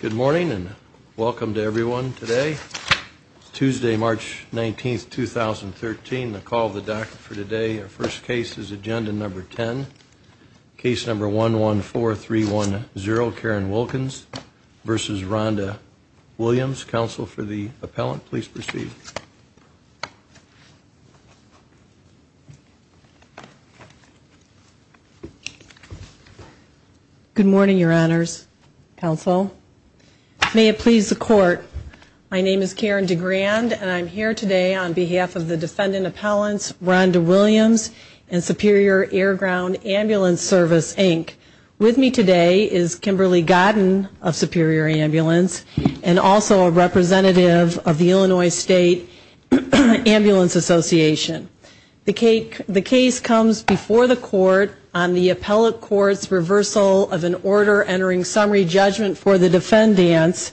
Good morning and welcome to everyone today Tuesday March 19th 2013 the call of the doctor for today our first case is agenda number ten case number one one four three one zero Karen Wilkins versus Rhonda Williams counsel for the May it please the court. My name is Karen DeGrande and I'm here today on behalf of the defendant appellants Rhonda Williams and Superior Air Ground Ambulance Service, Inc. With me today is Kimberly Godden of Superior Ambulance and also a representative of the Illinois State Ambulance Association. The case comes before the court on the appellate court's reversal of an order entering summary judgment for the defendant. For the defendants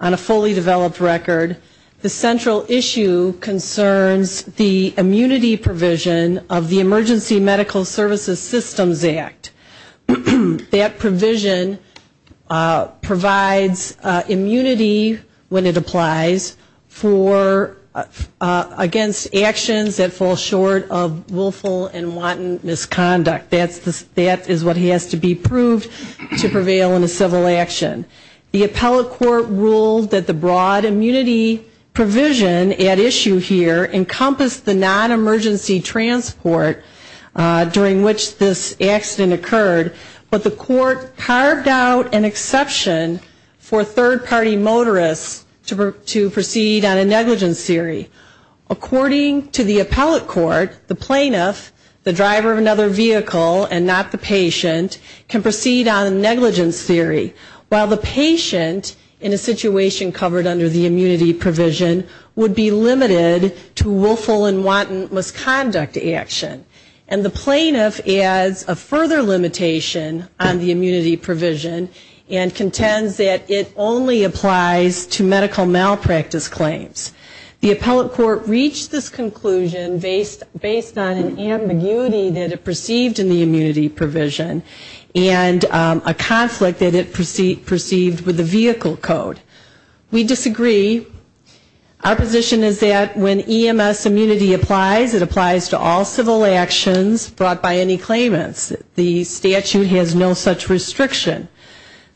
on a fully developed record the central issue concerns the immunity provision of the Emergency Medical Services Systems Act. That provision provides immunity when it applies for against actions that fall short of willful and wanton misconduct. That is what has to be proved to prevail in a civil action. The appellate court ruled that the broad immunity provision at issue here encompassed the non-emergency transport during which this accident occurred, but the court carved out an exception for third party motorists to proceed on a negligence theory. According to the appellate court, the plaintiff, the driver of another vehicle and not the patient can proceed on a negligence theory, while the patient in a situation covered under the immunity provision would be limited to willful and wanton misconduct action. And the plaintiff adds a further limitation on the immunity provision and contends that it only applies to medical malpractice claims. The appellate court reached this conclusion based on an ambiguity that it perceived in the immunity provision and a conflict that it perceived with the vehicle code. We disagree. Our position is that when EMS immunity applies, it applies to all civil actions brought by any claimants. The statute has no such restriction.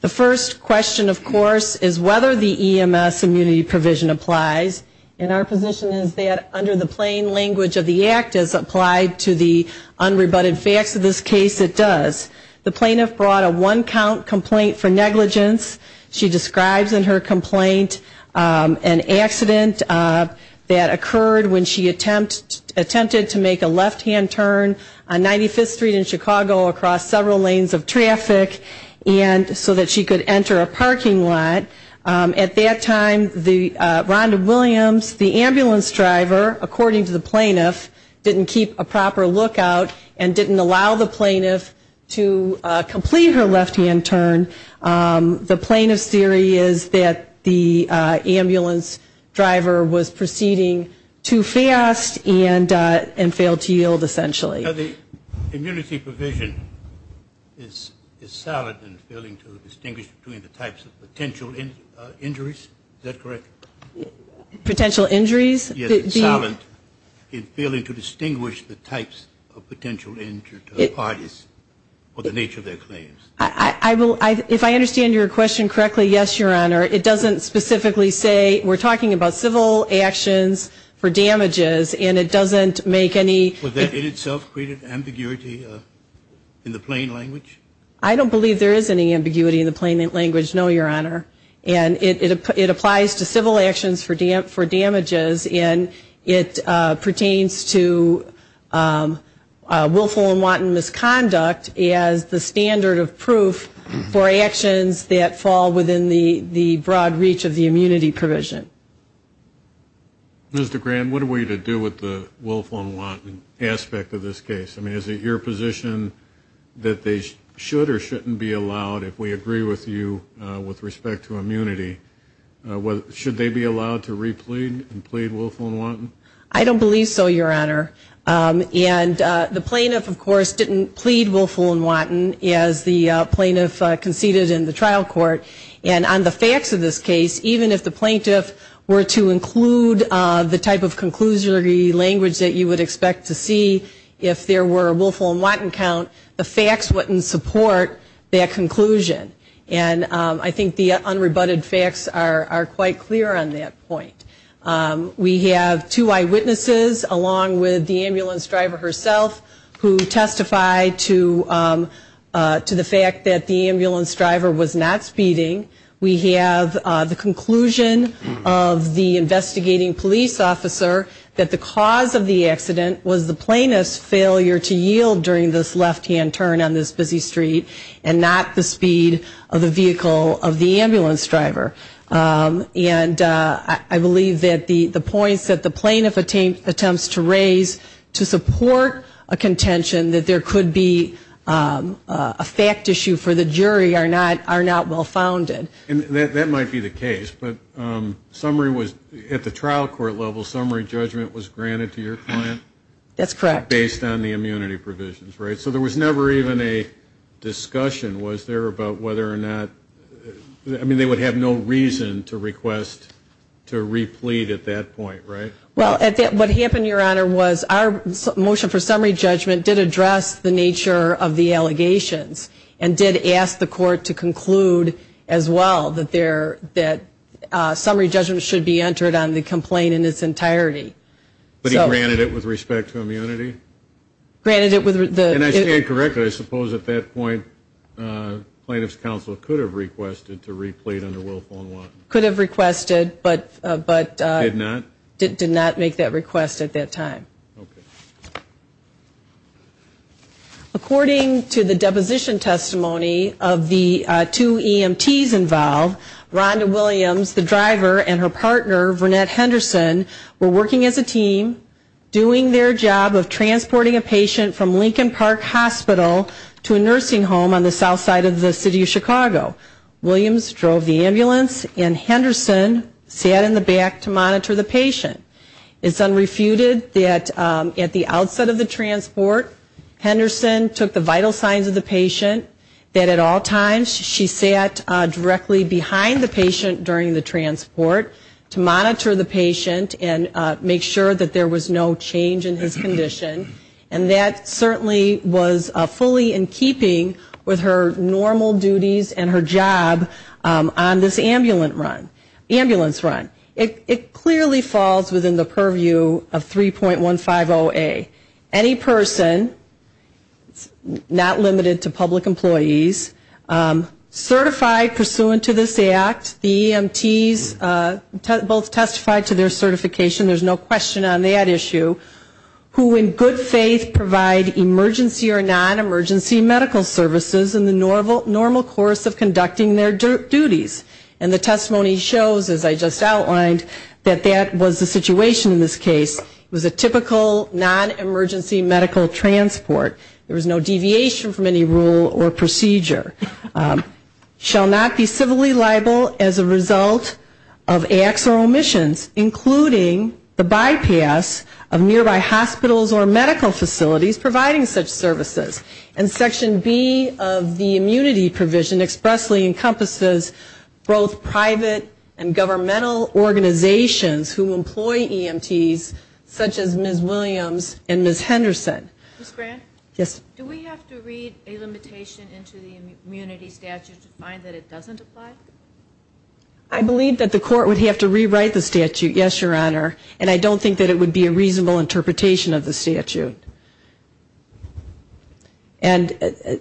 The first question, of course, is whether the EMS immunity provision applies. And our position is that under the plain language of the act as applied to the unrebutted facts of this case, it does. The plaintiff brought a one-count complaint for negligence. She describes in her complaint an accident that occurred when she attempted to make a left-hand turn on 95th Street in Chicago across several lanes of traffic so that she could enter a parking lot. At that time, Rhonda Williams, the ambulance driver, according to the plaintiff, didn't keep a proper lookout and didn't allow the plaintiff to complete her left-hand turn. The plaintiff's theory is that the ambulance driver was proceeding too fast and failed to yield, essentially. Now, the immunity provision is silent in failing to distinguish between the types of potential injuries. Is that correct? Potential injuries? Yes, it's silent in failing to distinguish the types of potential injuries to the parties or the nature of their claims. If I understand your question correctly, yes, Your Honor. It doesn't specifically say, we're talking about civil actions for damages, and it doesn't make any Would that in itself create an ambiguity in the plain language? I don't believe there is any ambiguity in the plain language, no, Your Honor. And it applies to civil actions for damages, and it pertains to willful and wanton misconduct as the standard of proof for actions that are not subject to the broad reach of the immunity provision. Mr. Grand, what are we to do with the willful and wanton aspect of this case? I mean, is it your position that they should or shouldn't be allowed, if we agree with you with respect to immunity, should they be allowed to re-plead and plead willful and wanton? I don't believe so, Your Honor. And the plaintiff, of course, didn't plead willful and wanton as the plaintiff conceded in the trial court. And I think the facts of this case, even if the plaintiff were to include the type of conclusory language that you would expect to see, if there were a willful and wanton count, the facts wouldn't support that conclusion. And I think the unrebutted facts are quite clear on that point. We have two eyewitnesses, along with the ambulance driver herself, who testified to the fact that the ambulance driver was not speeding. We have the conclusion of the investigating police officer that the cause of the accident was the plaintiff's failure to yield during this left-hand turn on this busy street, and not the speed of the vehicle of the ambulance driver. And I believe that the points that the plaintiff attempts to raise to support a contention that there could be a fact issue for the jury are not well-founded. And that might be the case, but summary was, at the trial court level, summary judgment was granted to your client? That's correct. Based on the immunity provisions, right? So there was never even a discussion, was there, about whether or not, I mean, they would have no reason to request to replete at that point, right? Well, what happened, Your Honor, was our motion for summary judgment did address the nature of the allegations, and did ask the court to conclude as well as the plaintiff did, that there, that summary judgment should be entered on the complaint in its entirety. But he granted it with respect to immunity? Granted it with the... And I stand corrected. I suppose at that point, plaintiff's counsel could have requested to replete under willful and wanton. Could have requested, but... Did not? Did not make that request at that time. According to the deposition testimony of the two EMTs involved, Rhonda Williams, the driver, and her partner, Vernette Henderson, were working as a team, doing their job of transporting a patient from Lincoln Park Hospital to a nursing home on the south side of the city of Chicago. Williams drove the ambulance, and Henderson sat in the back to monitor the patient. It's unrefuted that at the outset of the transport, Henderson took the vital signs of the patient, that at all times she sat directly behind the patient during the transport to monitor the patient and make sure that there was no change in his condition, and that certainly was fully in keeping with her normal duties and her job on this ambulance run. It clearly falls within the purview of 3.150A. Any person, not limited to public employees, certified pursuant to this act, the EMTs both testified to their certification, there's no question on that issue, who in good faith provide emergency or non-emergency medical services in the normal course of conducting their duties. And the testimony shows, as I just outlined, that that was the situation in this case. It was a typical non-emergency medical transport. There was no deviation from any rule or procedure. Shall not be civilly liable as a result of acts or omissions, including the bypass of medical procedures. There are no nearby hospitals or medical facilities providing such services. And Section B of the immunity provision expressly encompasses both private and governmental organizations who employ EMTs, such as Ms. Williams and Ms. Henderson. Ms. Grant? Yes. Do we have to read a limitation into the immunity statute to find that it doesn't apply? I believe that the court would have to rewrite the statute, yes, Your Honor, and I don't think that it would be a reasonable interpretation of the statute. And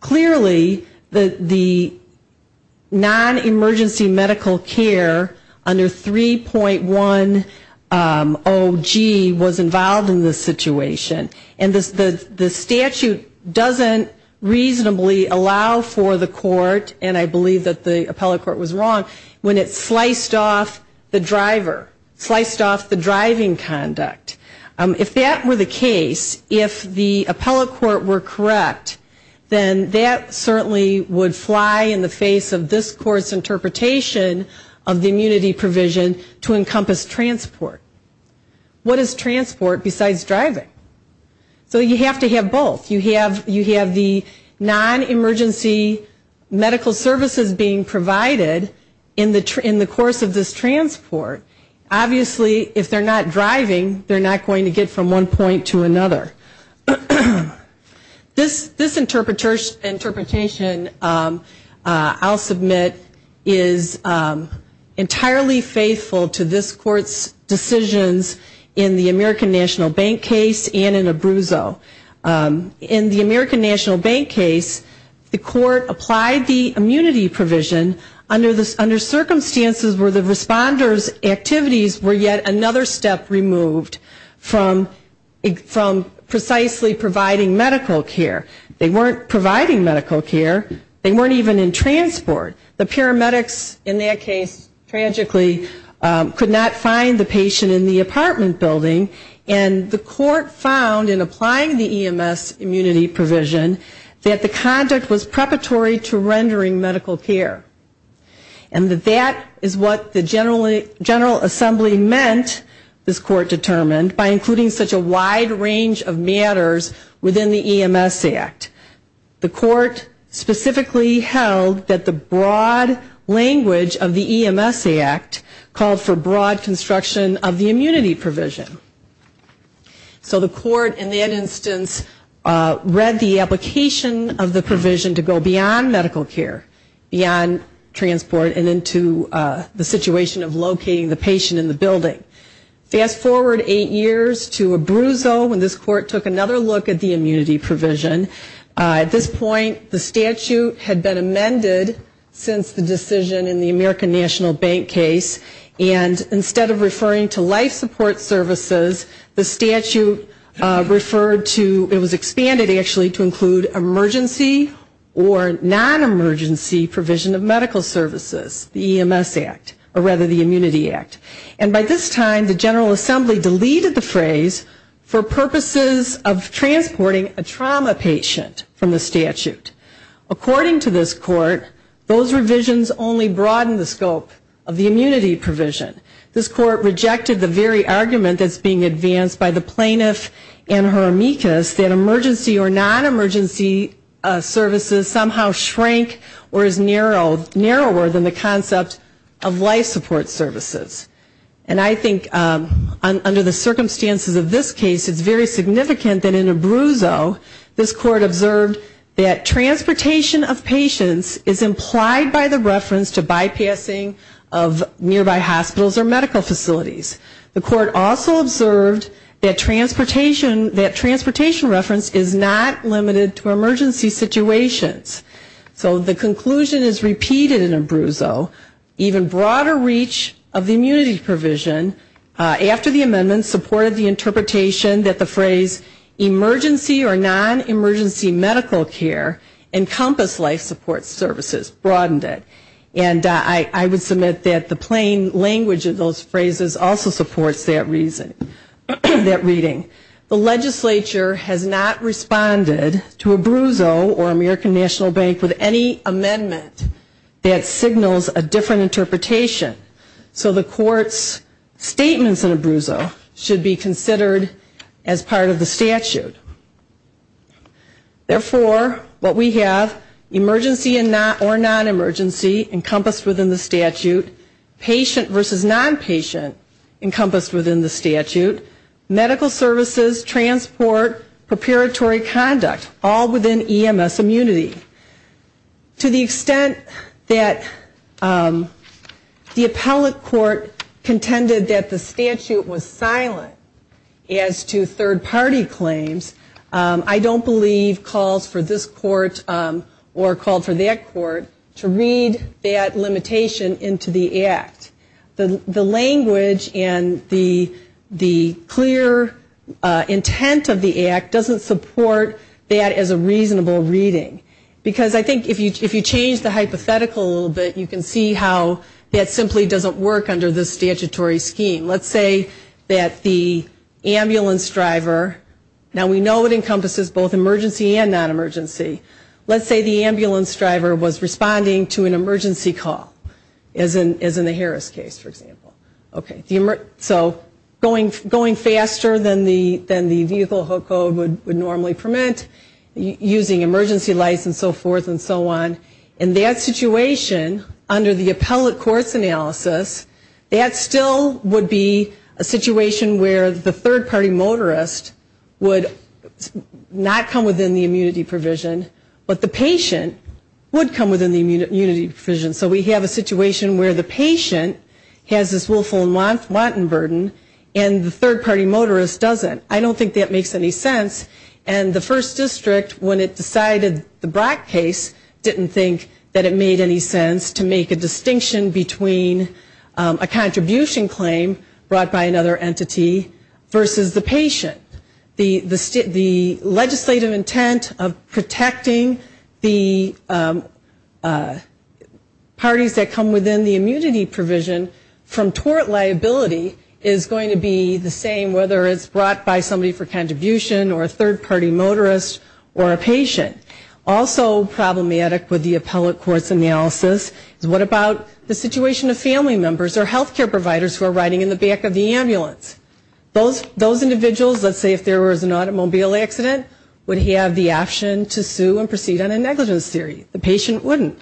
clearly the non-emergency medical care under 3.10G was involved in this situation. And the statute doesn't reasonably allow for the court, and I believe that the appellate court was wrong, when it sliced off the driver, sliced off the driving conduct. If that were the case, if the appellate court were correct, then that certainly would fly in the face of this court's interpretation of the immunity provision to encompass transport. What is transport besides driving? So you have to have both. You have the non-emergency medical services being provided in the course of this transport. Obviously, if they're not driving, they're not going to get from one point to another. This interpretation, I'll submit, is entirely faithful to this court's decision. And it's the same provisions in the American National Bank case and in Abruzzo. In the American National Bank case, the court applied the immunity provision under circumstances where the responders' activities were yet another step removed from precisely providing medical care. They weren't providing medical care. They weren't even in transport. The paramedics in that case, tragically, could not find the patient in the apartment building. And the court found in applying the EMS immunity provision that the conduct was preparatory to rendering medical care. And that that is what the General Assembly meant, this court determined, by including such a wide range of matters within the EMS Act. The court specifically held that the broad language of the EMS Act called for broad construction of the immunity provision. So the court, in that instance, read the application of the provision to go beyond medical care, beyond transport, and into the situation of locating the patient in the building. Fast forward eight years to Abruzzo when this court took another look at the immunity provision. At this point, the statute had been amended since the decision in the American National Bank case, and instead of referring to life support services, the statute referred to, it was expanded actually to include emergency or non-emergency provision of medical services, the EMS Act, or rather the Immunity Act. And by this time, the General Assembly deleted the phrase for purposes of transporting a trauma patient. According to this court, those revisions only broadened the scope of the immunity provision. This court rejected the very argument that's being advanced by the plaintiff and her amicus that emergency or non-emergency services somehow shrank or is narrower than the concept of life support services. And I think under the circumstances of this case, it's very significant that in Abruzzo, this court observed that the EMS Act, or rather the Immunity Act, observed that transportation of patients is implied by the reference to bypassing of nearby hospitals or medical facilities. The court also observed that transportation reference is not limited to emergency situations. So the conclusion is repeated in Abruzzo, even broader reach of the immunity provision after the amendment supported the interpretation that the phrase emergency or non-emergency medical care encompassed life support services, broadened it. And I would submit that the plain language of those phrases also supports that reading. The legislature has not responded to Abruzzo or American National Bank with any amendment that signals a different interpretation. So the court's statements in Abruzzo should be considered as part of the statute. Therefore, what we have, emergency or non-emergency encompassed within the statute, patient versus non-patient encompassed within the statute, medical services, transport, preparatory conduct, all within EMS immunity. To the extent that the appellate court contended that the statute was silent as to third party claims, the court's statement in Abruzzo I don't believe calls for this court or called for that court to read that limitation into the act. The language and the clear intent of the act doesn't support that as a reasonable reading. Because I think if you change the hypothetical a little bit, you can see how that simply doesn't work under this statutory scheme. Let's say that the ambulance driver, now we know it encompasses both emergency and non-emergency. Let's say the ambulance driver was responding to an emergency call, as in the Harris case, for example. So going faster than the vehicle code would normally permit, using emergency lights and so forth and so on. In that situation, under the appellate court's analysis, that still would be a non-emergency call. That would be a situation where the third party motorist would not come within the immunity provision, but the patient would come within the immunity provision. So we have a situation where the patient has this willful and wanton burden and the third party motorist doesn't. I don't think that makes any sense. And the first district, when it decided the Brock case, didn't think that it made any sense to make a distinction between a contribution claim brought by another entity versus the patient. The legislative intent of protecting the parties that come within the immunity provision from tort liability is going to be the same, whether it's brought by somebody for contribution or a third party motorist or a patient. Also problematic with the appellate court's analysis is what about the situation of family members or healthcare providers who are riding in the back of the ambulance? Those individuals, let's say if there was an automobile accident, would have the option to sue and proceed on a negligence theory. The patient wouldn't.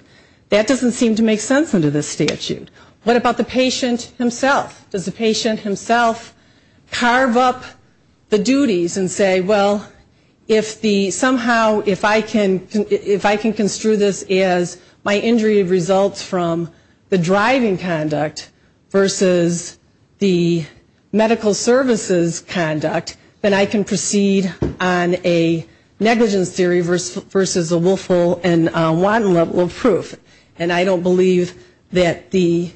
That doesn't seem to make sense under this statute. What about the patient himself? Does the patient himself carve up the duties and say, well, if the somehow if I can construe this as my injury results from the driving conduct versus the medical services conduct, then I can proceed on a negligence theory versus a willful and wanton level of proof. And I don't believe that the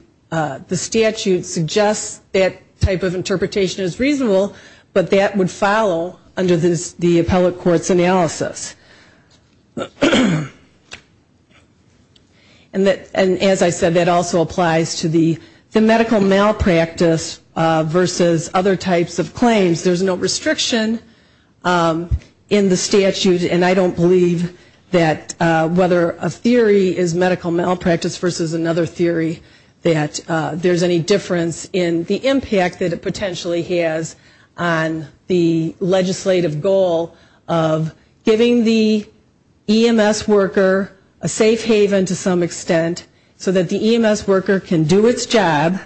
statute suggests that type of interpretation is reasonable, but that would follow under the appellate court's analysis. And as I said, that also applies to the medical malpractice versus other types of claims. There's no restriction in the statute, and I don't believe that whether a theory is medical malpractice versus another theory that there's any difference in the impact that it potentially has on the legislative goal of giving the EMS worker a safe place to live, a safe place to work, a safe place to work, a safe haven to some extent, so that the EMS worker can do its job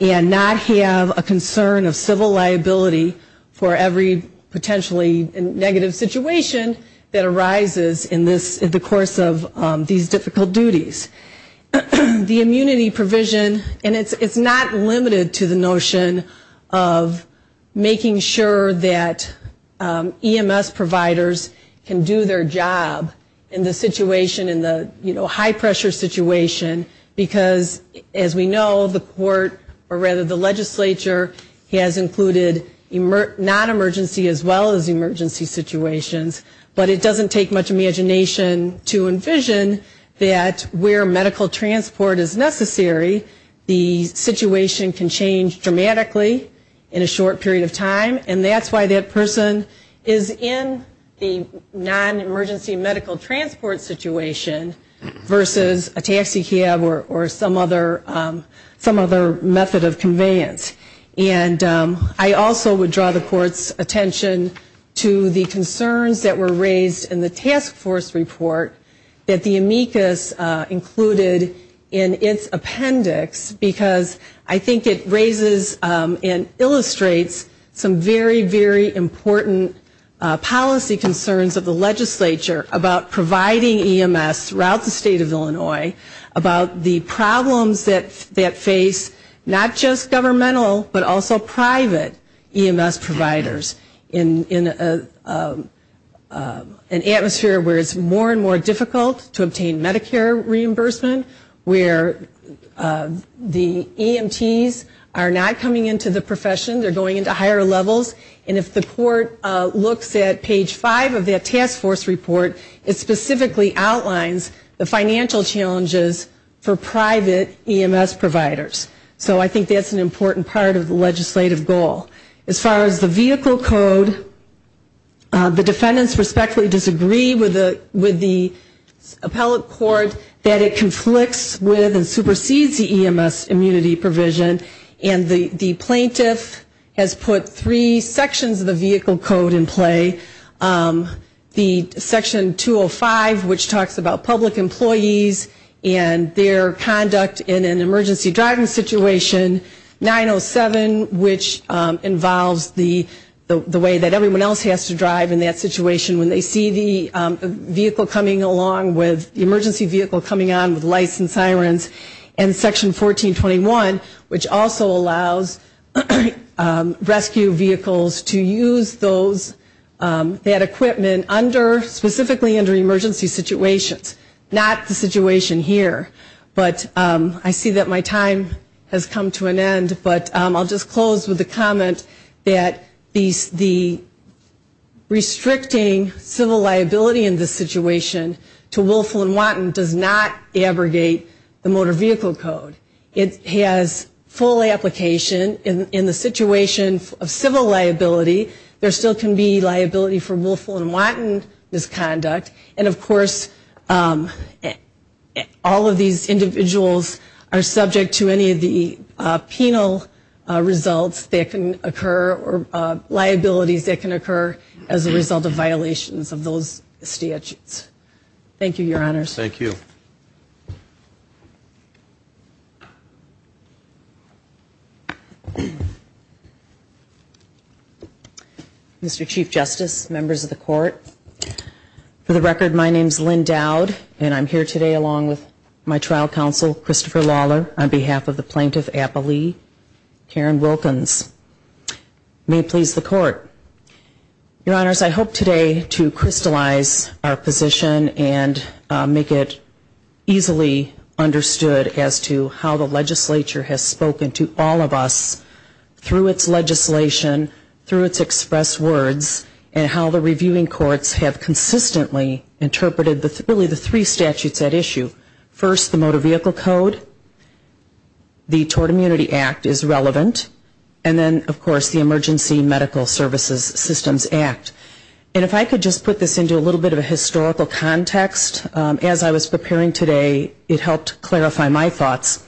and not have a concern of civil liability for every potentially negative situation that arises in this, in the course of these difficult duties. The immunity provision, and it's not limited to the notion of making sure that EMS providers can do their job in the situation, in the high pressure situation, because as we know, the court or rather the legislature has included non-emergency as well as emergency situations, but it doesn't take much imagination to envision that where medical transport is necessary, the situation can change dramatically in a short period of time, and that's why that person is in the non-emergency medical transport situation versus a taxi cab or some other method of conveyance. And I also would draw the court's attention to the concerns that were raised in the task force report that the amicus included in its appendix, because I think it raises and illustrates some very, very important policy concerns of the court in providing EMS throughout the state of Illinois about the problems that face not just governmental, but also private EMS providers in an atmosphere where it's more and more difficult to obtain Medicare reimbursement, where the EMTs are not coming into the profession, they're going into higher levels, and if the court looks at page 5 of that task force report, it specifically outlines the financial challenges for private EMS providers. So I think that's an important part of the legislative goal. As far as the vehicle code, the defendants respectfully disagree with the appellate court that it conflicts with and supersedes the EMS immunity provision, and the plaintiff has put three sections of the vehicle code in play. The section 205, which talks about public employees and their conduct in an emergency driving situation. 907, which involves the way that everyone else has to drive in that situation when they see the vehicle coming along with, the emergency vehicle coming on with lights and sirens. And section 1421, which also allows rescue vehicles to use those, that equipment under emergency situations. Not the situation here, but I see that my time has come to an end, but I'll just close with a comment that the restricting civil liability in this situation to Willful and Wanton does not abrogate the motor vehicle code. It has full application. In the situation of civil liability, there still can be liability for Willful and Wanton. There's no violation of the law. There's no violation of the law for Willful and Wanton and there's no violation of the law for Willful and Wanton. And of course all of these individuals are subject to any of the penal results that can occur, or liabilities that can occur as a result of violations of those statutes. Thank you, Your Honors. Thank you. Mr. Chief Justice, members of the Court, for the record, my name is Lynn Dowd and I'm here today along with my trial counsel, Christopher Lawler, on behalf of the plaintiff, Appa Lee, Karen Wilkins. May it please the Court. Your Honors, I hope today to crystallize our conversation and make it easily understood as to how the legislature has spoken to all of us through its legislation, through its express words, and how the reviewing courts have consistently interpreted really the three statutes at issue. First, the Motor Vehicle Code, the Tort Immunity Act is relevant, and then of course the Emergency Medical Services Systems Act. And if I could just put this into a little bit of a historical context, as I was preparing today, it helped clarify my thoughts.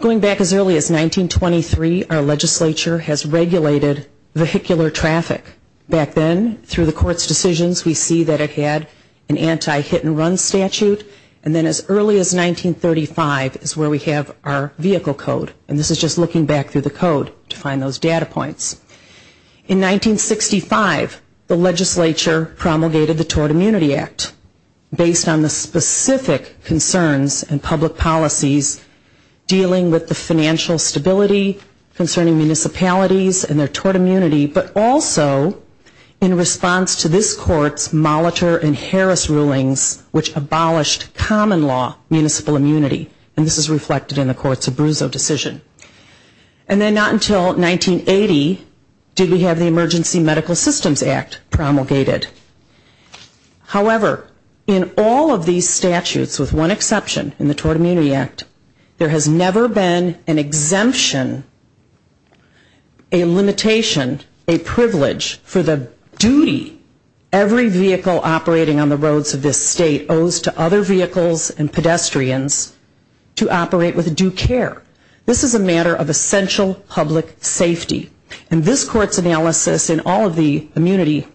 Going back as early as 1923, our legislature has regulated vehicular traffic. Back then, through the Court's decisions, we see that it had an anti-hit and run statute, and then as early as 1935 is where we have our Vehicle Code. And this is just looking back through the Code to find those data points. In 1965, the legislature promulgated the Tort Immunity Act based on the specific concerns and public policies dealing with the financial stability concerning municipalities and their tort immunity, but also in response to this Court's Molitor and Harris rulings, which abolished common law municipal immunity. And this is reflected in the Court's Abruzzo decision. And then not until 1980 did we have the Emergency Medical Systems Act promulgated. However, in all of these statutes, with one exception, in the Tort Immunity Act, there has never been an exemption, a limitation, a privilege for the duty every vehicle operating on the roads of this state owes to other vehicles and pedestrians to operate with due care. This is a matter of essential public safety. And this Court's analysis of the Tort Immunity Act and the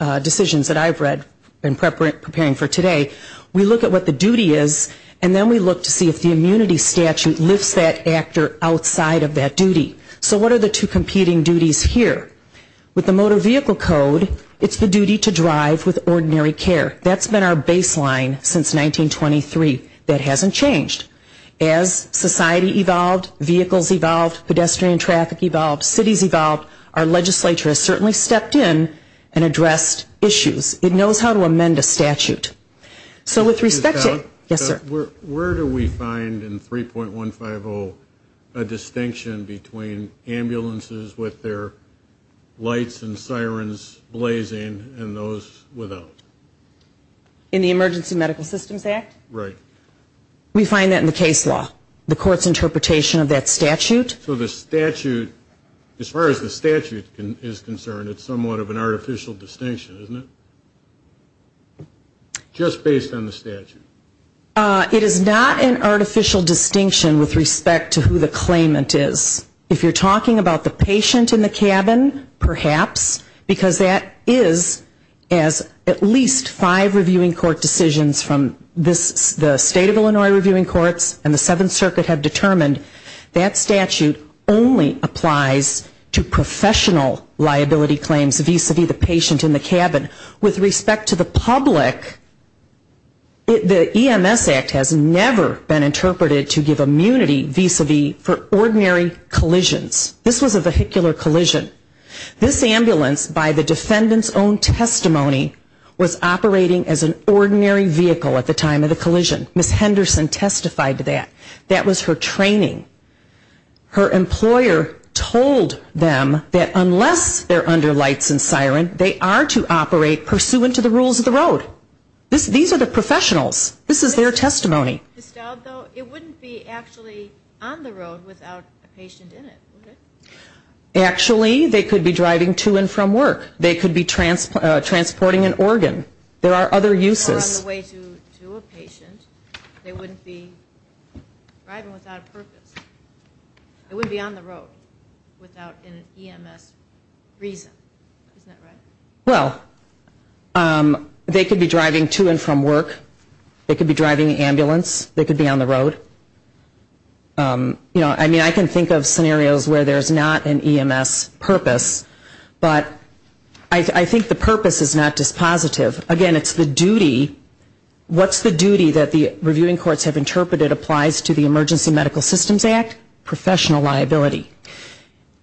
analysis in all of the immunity decisions that I've read and preparing for today, we look at what the duty is and then we look to see if the immunity statute lifts that actor outside of that duty. So what are the two competing duties here? With the Motor Vehicle Code, it's the duty to drive with ordinary care. That's been our baseline since 1923. That hasn't changed. As society evolved, vehicles evolved, pedestrian traffic evolved, cities evolved, our legislature has certainly stepped in and addressed issues. It knows how to amend a statute. So with respect to yes, sir? Where do we find in 3.150 a distinction between ambulances with their lights and sirens blazing and those without? In the Emergency Medical Systems Act? Right. We find that in the case law. The Court's interpretation of that statute. So the statute, as far as the statute is concerned, it's somewhat of an artificial distinction, isn't it? Just based on the statute? It is not an artificial distinction with respect to who the claimant is. If you're talking about the patient in the cabin, perhaps, because that is, as at least five reviewing court decisions from the State of Illinois Reviewing Courts and the Seventh Circuit have determined, that statute only applies to professional liability claims vis-a-vis the patient in the cabin. With respect to the public, the EMS Act has never been interpreted to give immunity vis-a-vis for ordinary collisions. This was a vehicular collision. This ambulance by the defendant's own testimony was operating as an ordinary vehicle at the time of the collision. Ms. Henderson testified to that. That was her training. Her employer told them that unless they're under lights and siren, they are to operate pursuant to the rules of the road. These are the professionals. This is their testimony. It wouldn't be actually on the road without a patient in it, would it? Actually, they could be driving to and from work. They could be transporting an organ. There are other uses. Or on the way to a patient. They wouldn't be driving without a purpose. It would be on the road without an EMS reason. Isn't that right? Well, they could be driving to and from work. They could be driving an ambulance. They could be on the road. I mean, I can think of a lot of cases where there's not an EMS purpose. But I think the purpose is not dispositive. Again, it's the duty. What's the duty that the reviewing courts have interpreted applies to the Emergency Medical Systems Act? Professional liability.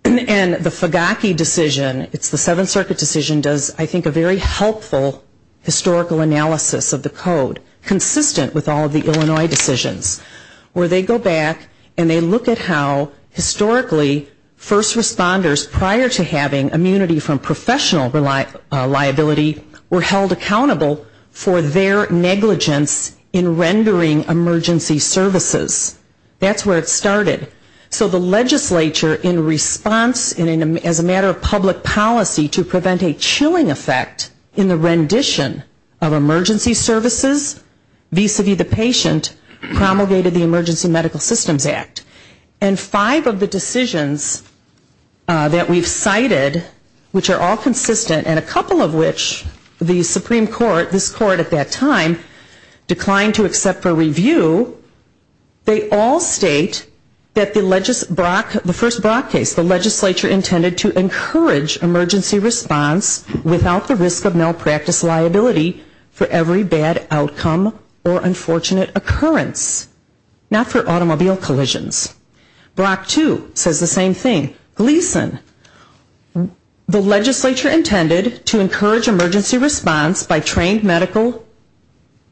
And the Fugaki decision, it's the Seventh Circuit decision, does I think a very helpful historical analysis of the code, consistent with all of the Illinois decisions, where they go back and they look at how historically first responders prior to having immunity from professional liability were held accountable for their negligence in rendering emergency services. That's where it started. So the legislature in response, as a matter of public policy, to prevent a chilling effect in the rendition of emergency services, vis-a-vis the patient, promulgated the Emergency Medical Systems Act. And five of the decisions that we've cited, which are all consistent, and a couple of which the Supreme Court, this Court at that time, declined to accept for review, they all state that the first Brock case, the legislature intended to encourage emergency response without the risk of malpractice liability for every bad outcome or unfortunate occurrence. Not for automobile collisions. Brock 2 says the same thing. Gleason, the legislature intended to encourage emergency response by trained medical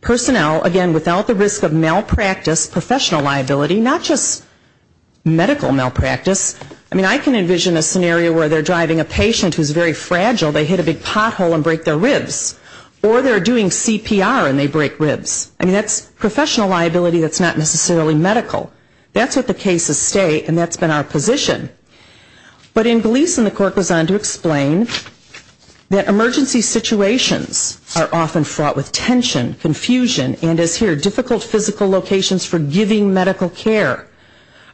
personnel, again, without the risk of malpractice professional liability, not just medical malpractice. I mean, I can envision a scenario where they're driving a patient who's very fragile, they hit a big pothole and break their arm and they break ribs. I mean, that's professional liability that's not necessarily medical. That's what the cases state and that's been our position. But in Gleason the court goes on to explain that emergency situations are often fraught with tension, confusion, and as here, difficult physical locations for giving medical care.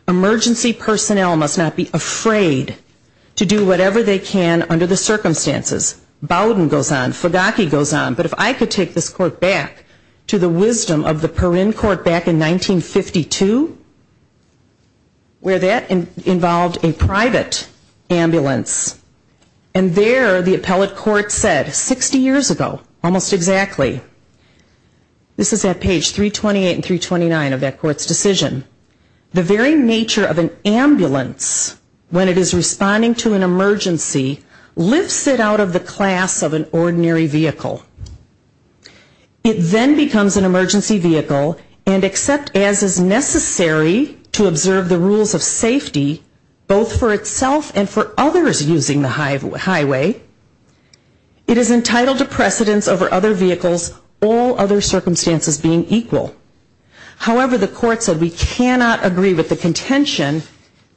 Emergency personnel must not be afraid to do whatever they can under the circumstances. I want to go back to the wisdom of the Perrin Court back in 1952 where that involved a private ambulance. And there the appellate court said, 60 years ago, almost exactly, this is at page 328 and 329 of that court's decision, the very nature of an ambulance when it is responding to an emergency lifts it out of the class of an ordinary vehicle. It is not a vehicle, it is an ambulance. It then becomes an emergency vehicle and except as is necessary to observe the rules of safety, both for itself and for others using the highway, it is entitled to precedence over other vehicles, all other circumstances being equal. However, the court said we cannot agree with the contention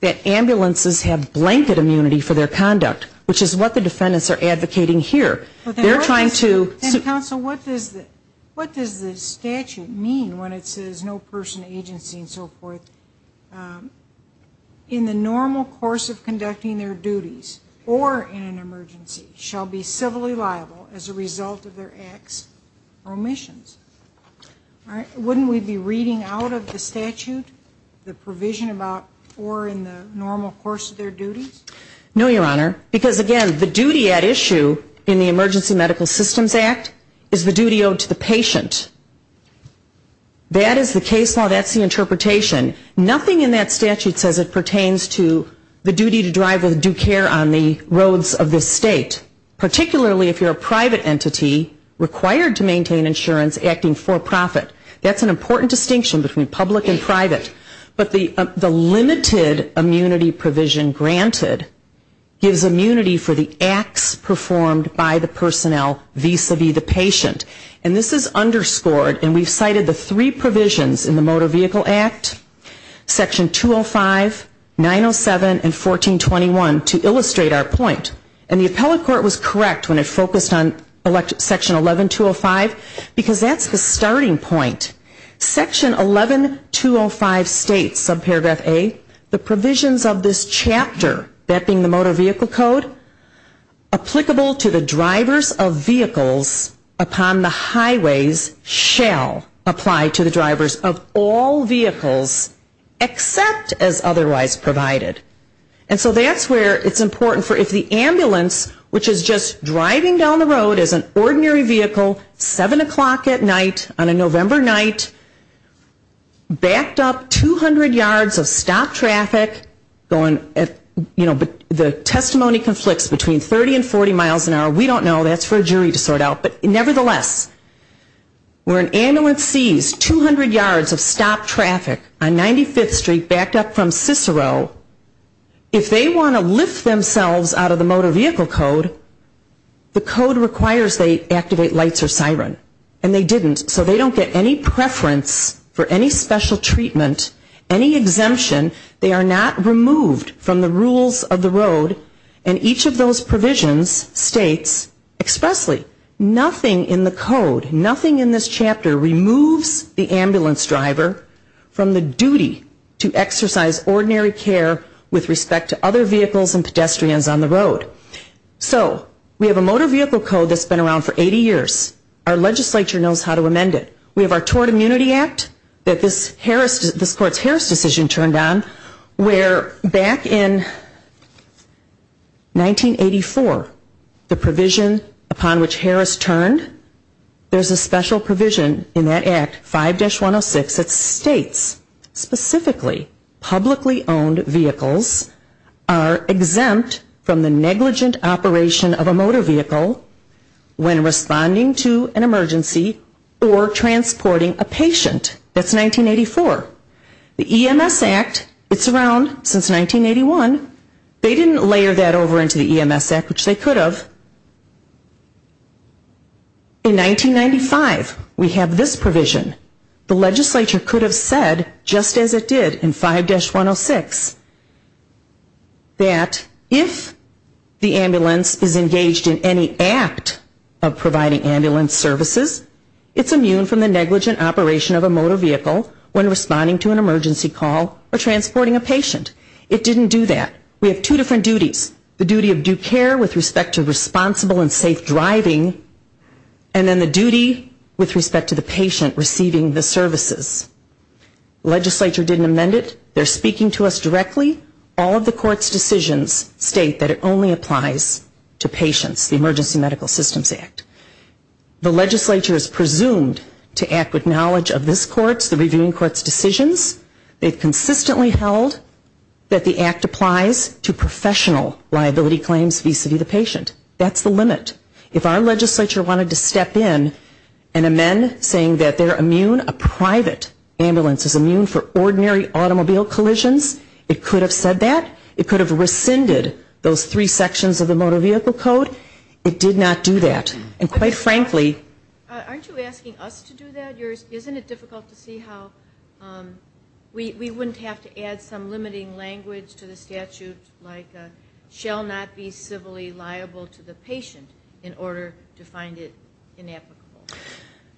that ambulances have blanket immunity for their conduct, which is what the defendants are advocating here. They are trying to Then counsel, what does the statute mean when it says no person, agency and so forth in the normal course of conducting their duties or in an emergency shall be civilly liable as a result of their acts or omissions? Wouldn't we be reading out of the statute the provision about or in the normal course of their duties? No, Your Honor, because again, the duty at issue in the Emergency Medical Systems Act is the duty owed to the patient. That is the case law, that is the interpretation. Nothing in that statute says it pertains to the duty to drive with due care on the roads of this state, particularly if you are a private entity required to maintain insurance acting for profit. That is an important distinction between public and private. But the limited immunity provision granted gives immunity for the acts performed by the personnel vis-a-vis the patient. And this is underscored, and we have cited the three provisions in the Motor Vehicle Act, Section 205, 907 and 1421 to illustrate our point. And the appellate court was correct when it focused on Section 11205, because that is the starting point. Section 11205 states that the provisions of this chapter, that being the Motor Vehicle Code, applicable to the drivers of vehicles upon the highways shall apply to the drivers of all vehicles except as otherwise provided. And so that's where it's important for if the ambulance, which is just driving down the road as an ordinary vehicle, 7 o'clock at night on a November night, back on the road, and the driver's license is not valid, the driver's license is not valid, and the driver's license is not valid. So if an ambulance backed up 200 yards of stopped traffic, the testimony conflicts between 30 and 40 miles an hour. We don't know. That's for a jury to sort out. But nevertheless, where an ambulance sees 200 yards of stopped traffic on 95th Street backed up from Cicero, if they want to lift themselves out of the Motor Vehicle Code, the code requires they activate lights or siren. And they didn't. So they don't get any preference for any special treatment, any exemption. They are not removed from the rules of the road. And each of those provisions states expressly, nothing in the code, nothing in this chapter removes the ambulance driver from the duty to exercise ordinary care with respect to other vehicles and pedestrians on the road. So we have a Motor Vehicle Code that's been around for 80 years. Our legislature knows how to amend it. We have our Tort Immunity Act that this court's Harris decision turned on, where back in 1984, the provision upon which Harris turned, there's a special provision in that act, 5-106, that states specifically, publicly owned vehicles are exempt from the negligent operation of a motor vehicle when responding to an emergency or transporting a patient. That's 1984. The EMS Act, it's around since 1981. They didn't layer that over into the EMS Act, which they could have. In 1995, we have this provision. The legislature could have said, no, you can't do that. You can't do that. You can't do that. Just as it did in 5-106, that if the ambulance is engaged in any act of providing ambulance services, it's immune from the negligent operation of a motor vehicle when responding to an emergency call or transporting a patient. It didn't do that. We have two different duties. The duty of due care with respect to responsible and safe driving, and then the duty with respect to the ambulance. The legislature didn't amend it. They're speaking to us directly. All of the court's decisions state that it only applies to patients, the Emergency Medical Systems Act. The legislature is presumed to act with knowledge of this court's, the reviewing court's decisions. They've consistently held that the act applies to professional liability claims vis-a-vis the patient. That's the limit. If our legislature wanted to step in and amend saying that they're immune, a private ambulance is immune from the negligent operation of a motor vehicle, for ordinary automobile collisions, it could have said that. It could have rescinded those three sections of the Motor Vehicle Code. It did not do that. And quite frankly... Aren't you asking us to do that? Isn't it difficult to see how we wouldn't have to add some limiting language to the statute, like, shall not be civilly liable to the patient, in order to find it inapplicable?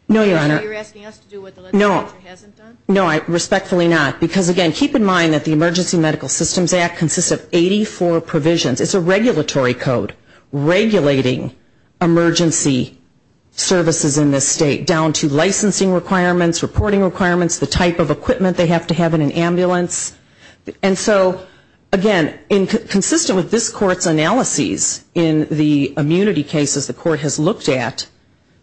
No, Your Honor. You're asking us to do what the legislature hasn't done? No, respectfully not. Because, again, keep in mind that the Emergency Medical Systems Act consists of 84 provisions. It's a regulatory code regulating emergency services in this state, down to licensing requirements, reporting requirements, the type of equipment they have to have in an ambulance. And so, again, consistent with this court's analyses in the immunity cases the court has looked at,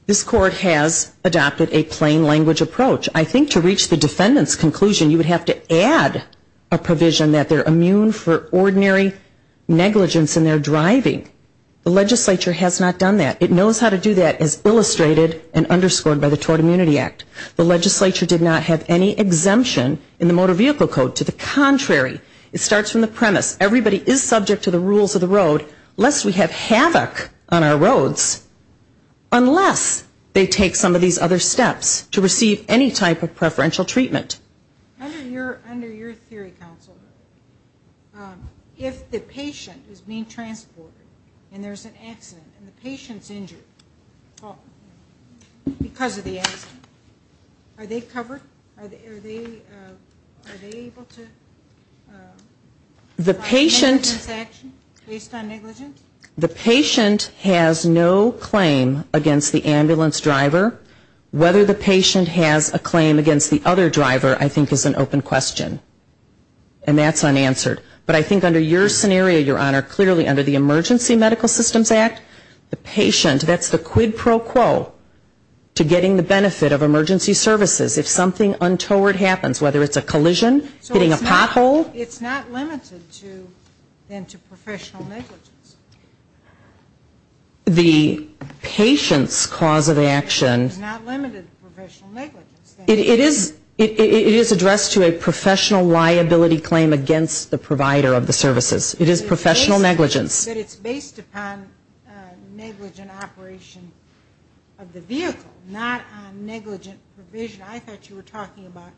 this court has adopted a plain language approach. I think to reach the defendant's conclusion, you would have to add a provision that they're immune for ordinary negligence in their driving. The legislature has not done that. It knows how to do that, as illustrated and underscored by the Tort Immunity Act. The legislature did not have any exemption in the Motor Vehicle Code. To the contrary, it starts from the premise, everybody is subject to the rules of the road, lest we have havoc on our roads, unless they take some of these other steps to receive any type of preferential treatment. Under your theory, counsel, if the patient is being transported and there's an accident and the patient's injured because of the accident, are they covered? Are they able to provide negligence action based on negligence? The patient has no claim against the ambulance driver. Whether the patient has a claim against the other driver, I think, is an open question. And that's unanswered. But I think under your scenario, Your Honor, clearly under the Emergency Medical Systems Act, the patient, that's the quid pro quo to getting the benefit of emergency services. If something untoward happens, whether it's a collision, hitting a pothole. The patient's cause of action, it is addressed to a professional liability claim against the provider of the services. It is professional negligence. It's based upon negligent operation of the vehicle, not on negligent provision. I thought you were talking about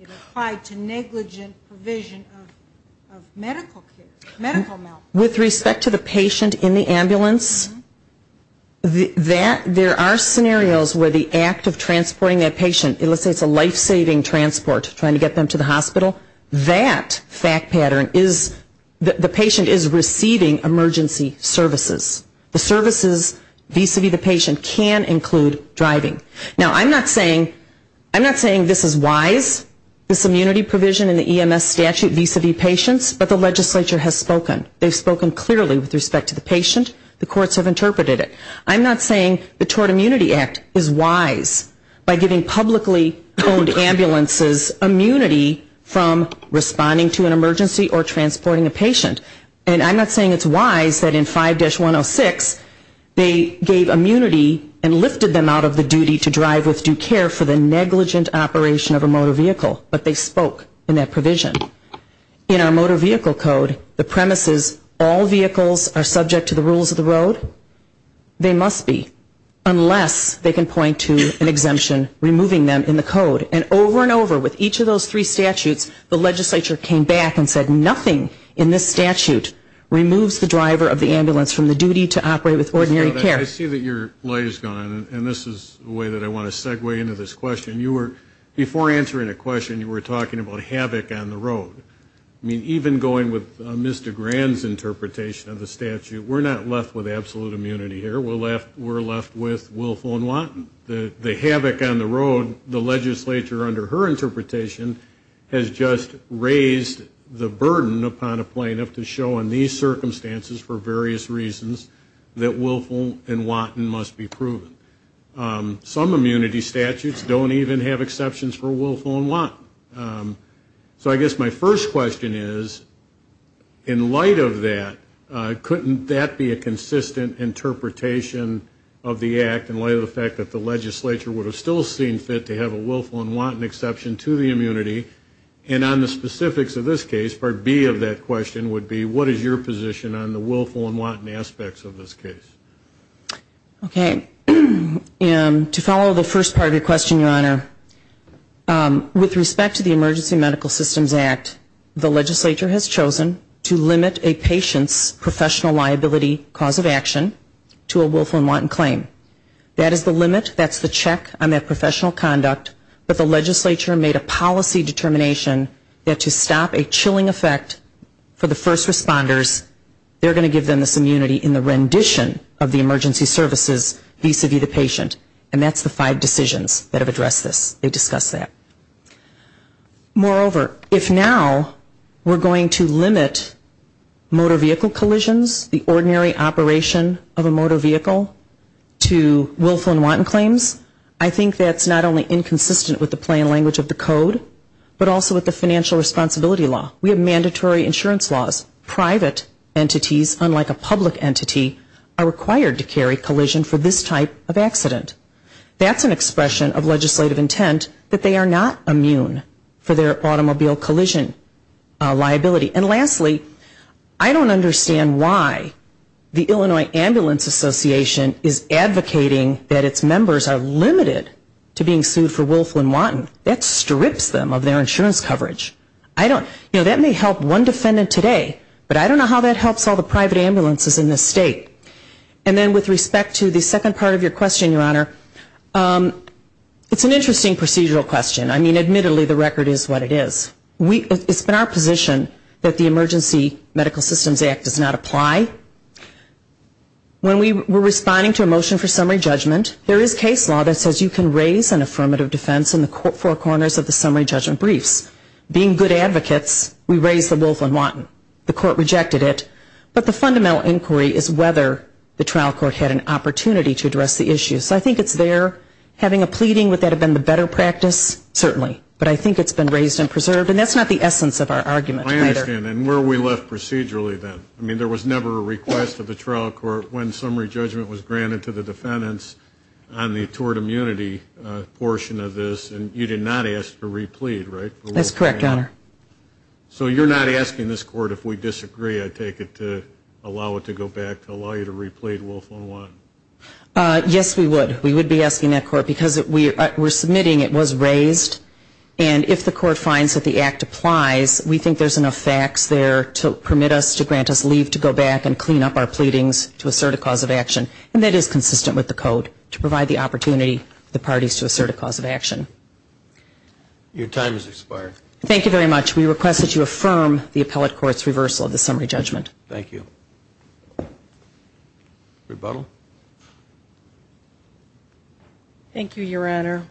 it applied to negligent provision of medical care, medical malpractice. And in the ambulance, there are scenarios where the act of transporting that patient, let's say it's a life-saving transport, trying to get them to the hospital, that fact pattern is, the patient is receiving emergency services. The services vis-a-vis the patient can include driving. Now, I'm not saying this is wise, this immunity provision in the EMS statute vis-a-vis patients, but the legislature has spoken. They've spoken clearly with respect to the patient. The courts have interpreted it. I'm not saying the Tort Immunity Act is wise by giving publicly owned ambulances immunity from responding to an emergency or transporting a patient. And I'm not saying it's wise that in 5-106 they gave immunity and lifted them out of the duty to drive with due care for the negligent operation of a motor vehicle, but they spoke in that provision. And I'm not saying that all ambulances, all vehicles are subject to the rules of the road. They must be. Unless they can point to an exemption removing them in the code. And over and over with each of those three statutes, the legislature came back and said nothing in this statute removes the driver of the ambulance from the duty to operate with ordinary care. I see that your light is gone, and this is a way that I want to segue into this question. Before answering a question, you were talking about havoc on the road. I mean, even going with Ms. DeGran's interpretation of the statute, we're not left with absolute immunity here. We're left with Wilfo and Watten. The havoc on the road, the legislature under her interpretation, has just raised the burden upon a plaintiff to show in these circumstances for various reasons that Wilfo and Watten must be proven. Some immunity statutes don't even have exceptions for Wilfo and Watten. So I guess my first question is, in light of that, couldn't that be a consistent interpretation of the act in light of the fact that the legislature would have still seen fit to have a Wilfo and Watten exception to the immunity? And on the specifics of this case, Part B of that question would be, what is your position on the Wilfo and Watten aspects of this case? To follow the first part of your question, Your Honor, with respect to the Emergency Medical Systems Act, the legislature has chosen to limit a patient's professional liability cause of action to a Wilfo and Watten claim. That is the limit, that's the check on that professional conduct, but the legislature made a policy determination that to stop a chilling effect for the first responders, they're going to give them this immunity in the rendition of the emergency services vis-a-vis the patient. And that's the five decisions that have addressed this. They discussed that. Moreover, if now we're going to limit motor vehicle collisions, the ordinary operation of a motor vehicle, to Wilfo and Watten claims, I think that's not only inconsistent with the plain language of the code, but also with the financial responsibility law. We have mandatory insurance laws. Private entities, unlike a public entity, are required to carry collision for this type of action. That's an expression of legislative intent that they are not immune for their automobile collision liability. And lastly, I don't understand why the Illinois Ambulance Association is advocating that its members are limited to being sued for Wilfo and Watten. That strips them of their insurance coverage. That may help one defendant today, but I don't know how that helps all the private ambulances in this state. And then with respect to the second part of your question, Your Honor, it's an interesting procedural question. I mean, admittedly, the record is what it is. It's been our position that the Emergency Medical Systems Act does not apply. When we were responding to a motion for summary judgment, there is case law that says you can raise an affirmative defense in the four corners of the summary judgment briefs. Being good advocates, we raised the Wilfo and Watten. The court rejected it. But the fundamental inquiry is whether the trial court had an opportunity to address the issue. So I think it's there. Having a pleading, would that have been the better practice? Certainly. But I think it's been raised and preserved. And that's not the essence of our argument. I understand. And where are we left procedurally then? I mean, there was never a request of the trial court when summary judgment was granted to the defendants on the tort immunity portion of this. And you did not ask to re-plead, right? That's correct, Your Honor. So you're not asking this court, if we disagree, I take it, to allow it to go back, to allow you to re-plead Wilfo and Watten? Yes, we would. We would be asking that court. Because we're submitting it was raised. And if the court finds that the Act applies, we think there's enough facts there to permit us, to grant us leave, to go back and clean up our pleadings to assert a cause of action. And that is consistent with the Code, to provide the opportunity for the defendants to go back and plead. Thank you very much. We request that you affirm the appellate court's reversal of the summary judgment. Thank you. Rebuttal? Thank you, Your Honor.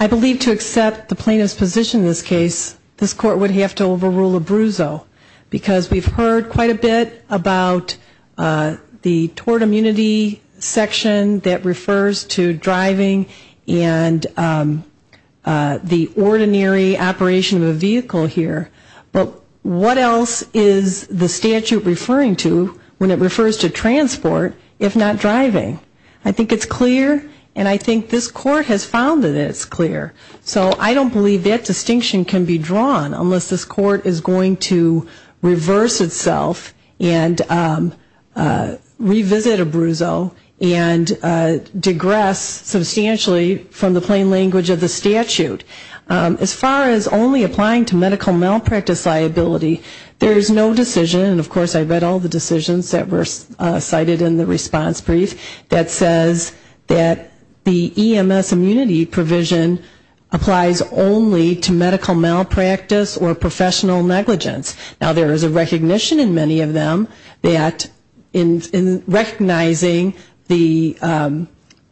I believe to accept the plaintiff's position in this case, this court would have to overrule Abruzzo. Because we've heard quite a bit about the tort immunity section that refers to driving and the ordinary operation of a vehicle here. But what else is the statute referring to when it refers to transport, if not driving? I think it's clear, and I think this court has found that it's clear. So I don't believe that distinction can be drawn unless this court is going to reverse itself and revisit Abruzzo and digress substantially from the plain language of the statute. As far as only applying to medical malpractice liability, there's no decision, and of course I read all the decisions that were cited in the response brief, that says that the EMS immunity provision applies only to medical malpractice or public professional negligence. Now, there is a recognition in many of them that in recognizing the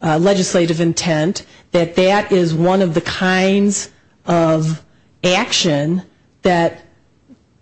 legislative intent, that that is one of the kinds of action that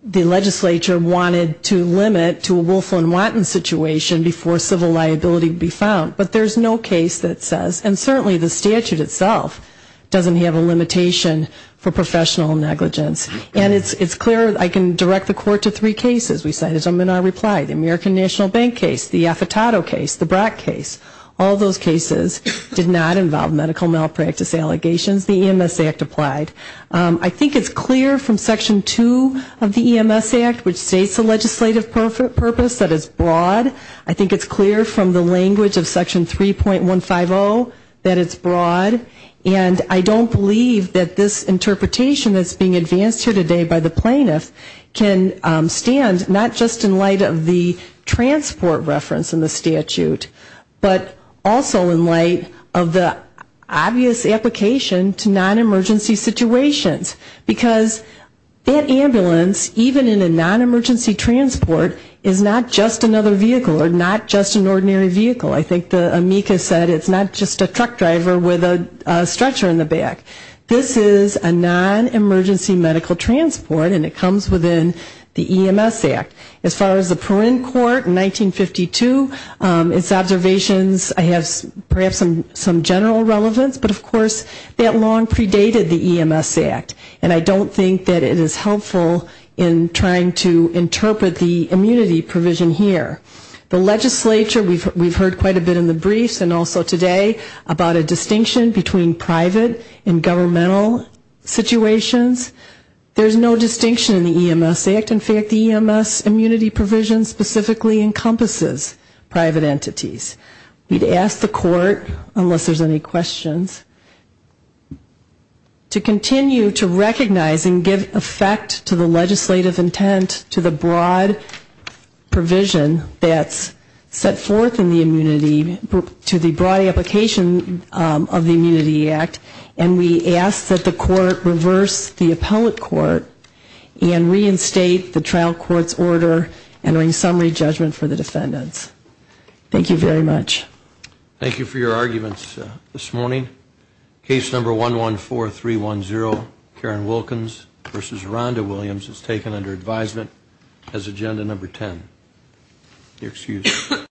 the legislature wanted to limit to a Wolf and Wanton situation before civil liability would be found. But there's no case that says, and certainly the statute itself doesn't have a limitation for professional negligence. And it's clear, I can direct the court to three cases. We cited them in our reply. The American National Bank case, the Affitado case, the Brock case. All those cases did not involve medical malpractice allegations. The EMS Act applied. I think it's clear from Section 2 of the EMS Act, which states the legislative purpose, that it's broad. I think it's clear from the language of Section 3.150 that it's broad. And I don't believe that this interpretation that's being advanced here is going to change the way that the legislature, as it's referred to today by the plaintiff, can stand not just in light of the transport reference in the statute, but also in light of the obvious application to non-emergency situations. Because that ambulance, even in a non-emergency transport, is not just another vehicle or not just an ordinary vehicle. I think the amicus said it's not just a truck driver with a stretcher in the back. This is a non-emergency medical transport and it comes within the EMS Act. As far as the Perrin Court in 1952, its observations have perhaps some general relevance, but of course that long predated the EMS Act. And I don't think that it is helpful in trying to interpret the immunity provision here. The legislature, we've heard quite a bit in the briefs and also today about a distinction between private and governmental situations. There's no distinction in the EMS Act. In fact, the EMS immunity provision specifically encompasses private entities. We'd ask the court, unless there's any questions, to continue to recognize and give effect to the legislative intent to the broad provision that's set forth in the immunity to the broad application of the Immunity Act. And we ask that the court reverse the appellate court and reinstate the trial court's order and bring summary judgment for the defendants. Thank you very much. Thank you for your arguments this morning. Case number 114310, Karen Wilkins versus Rhonda Williams is taken under advisement as agenda number 10.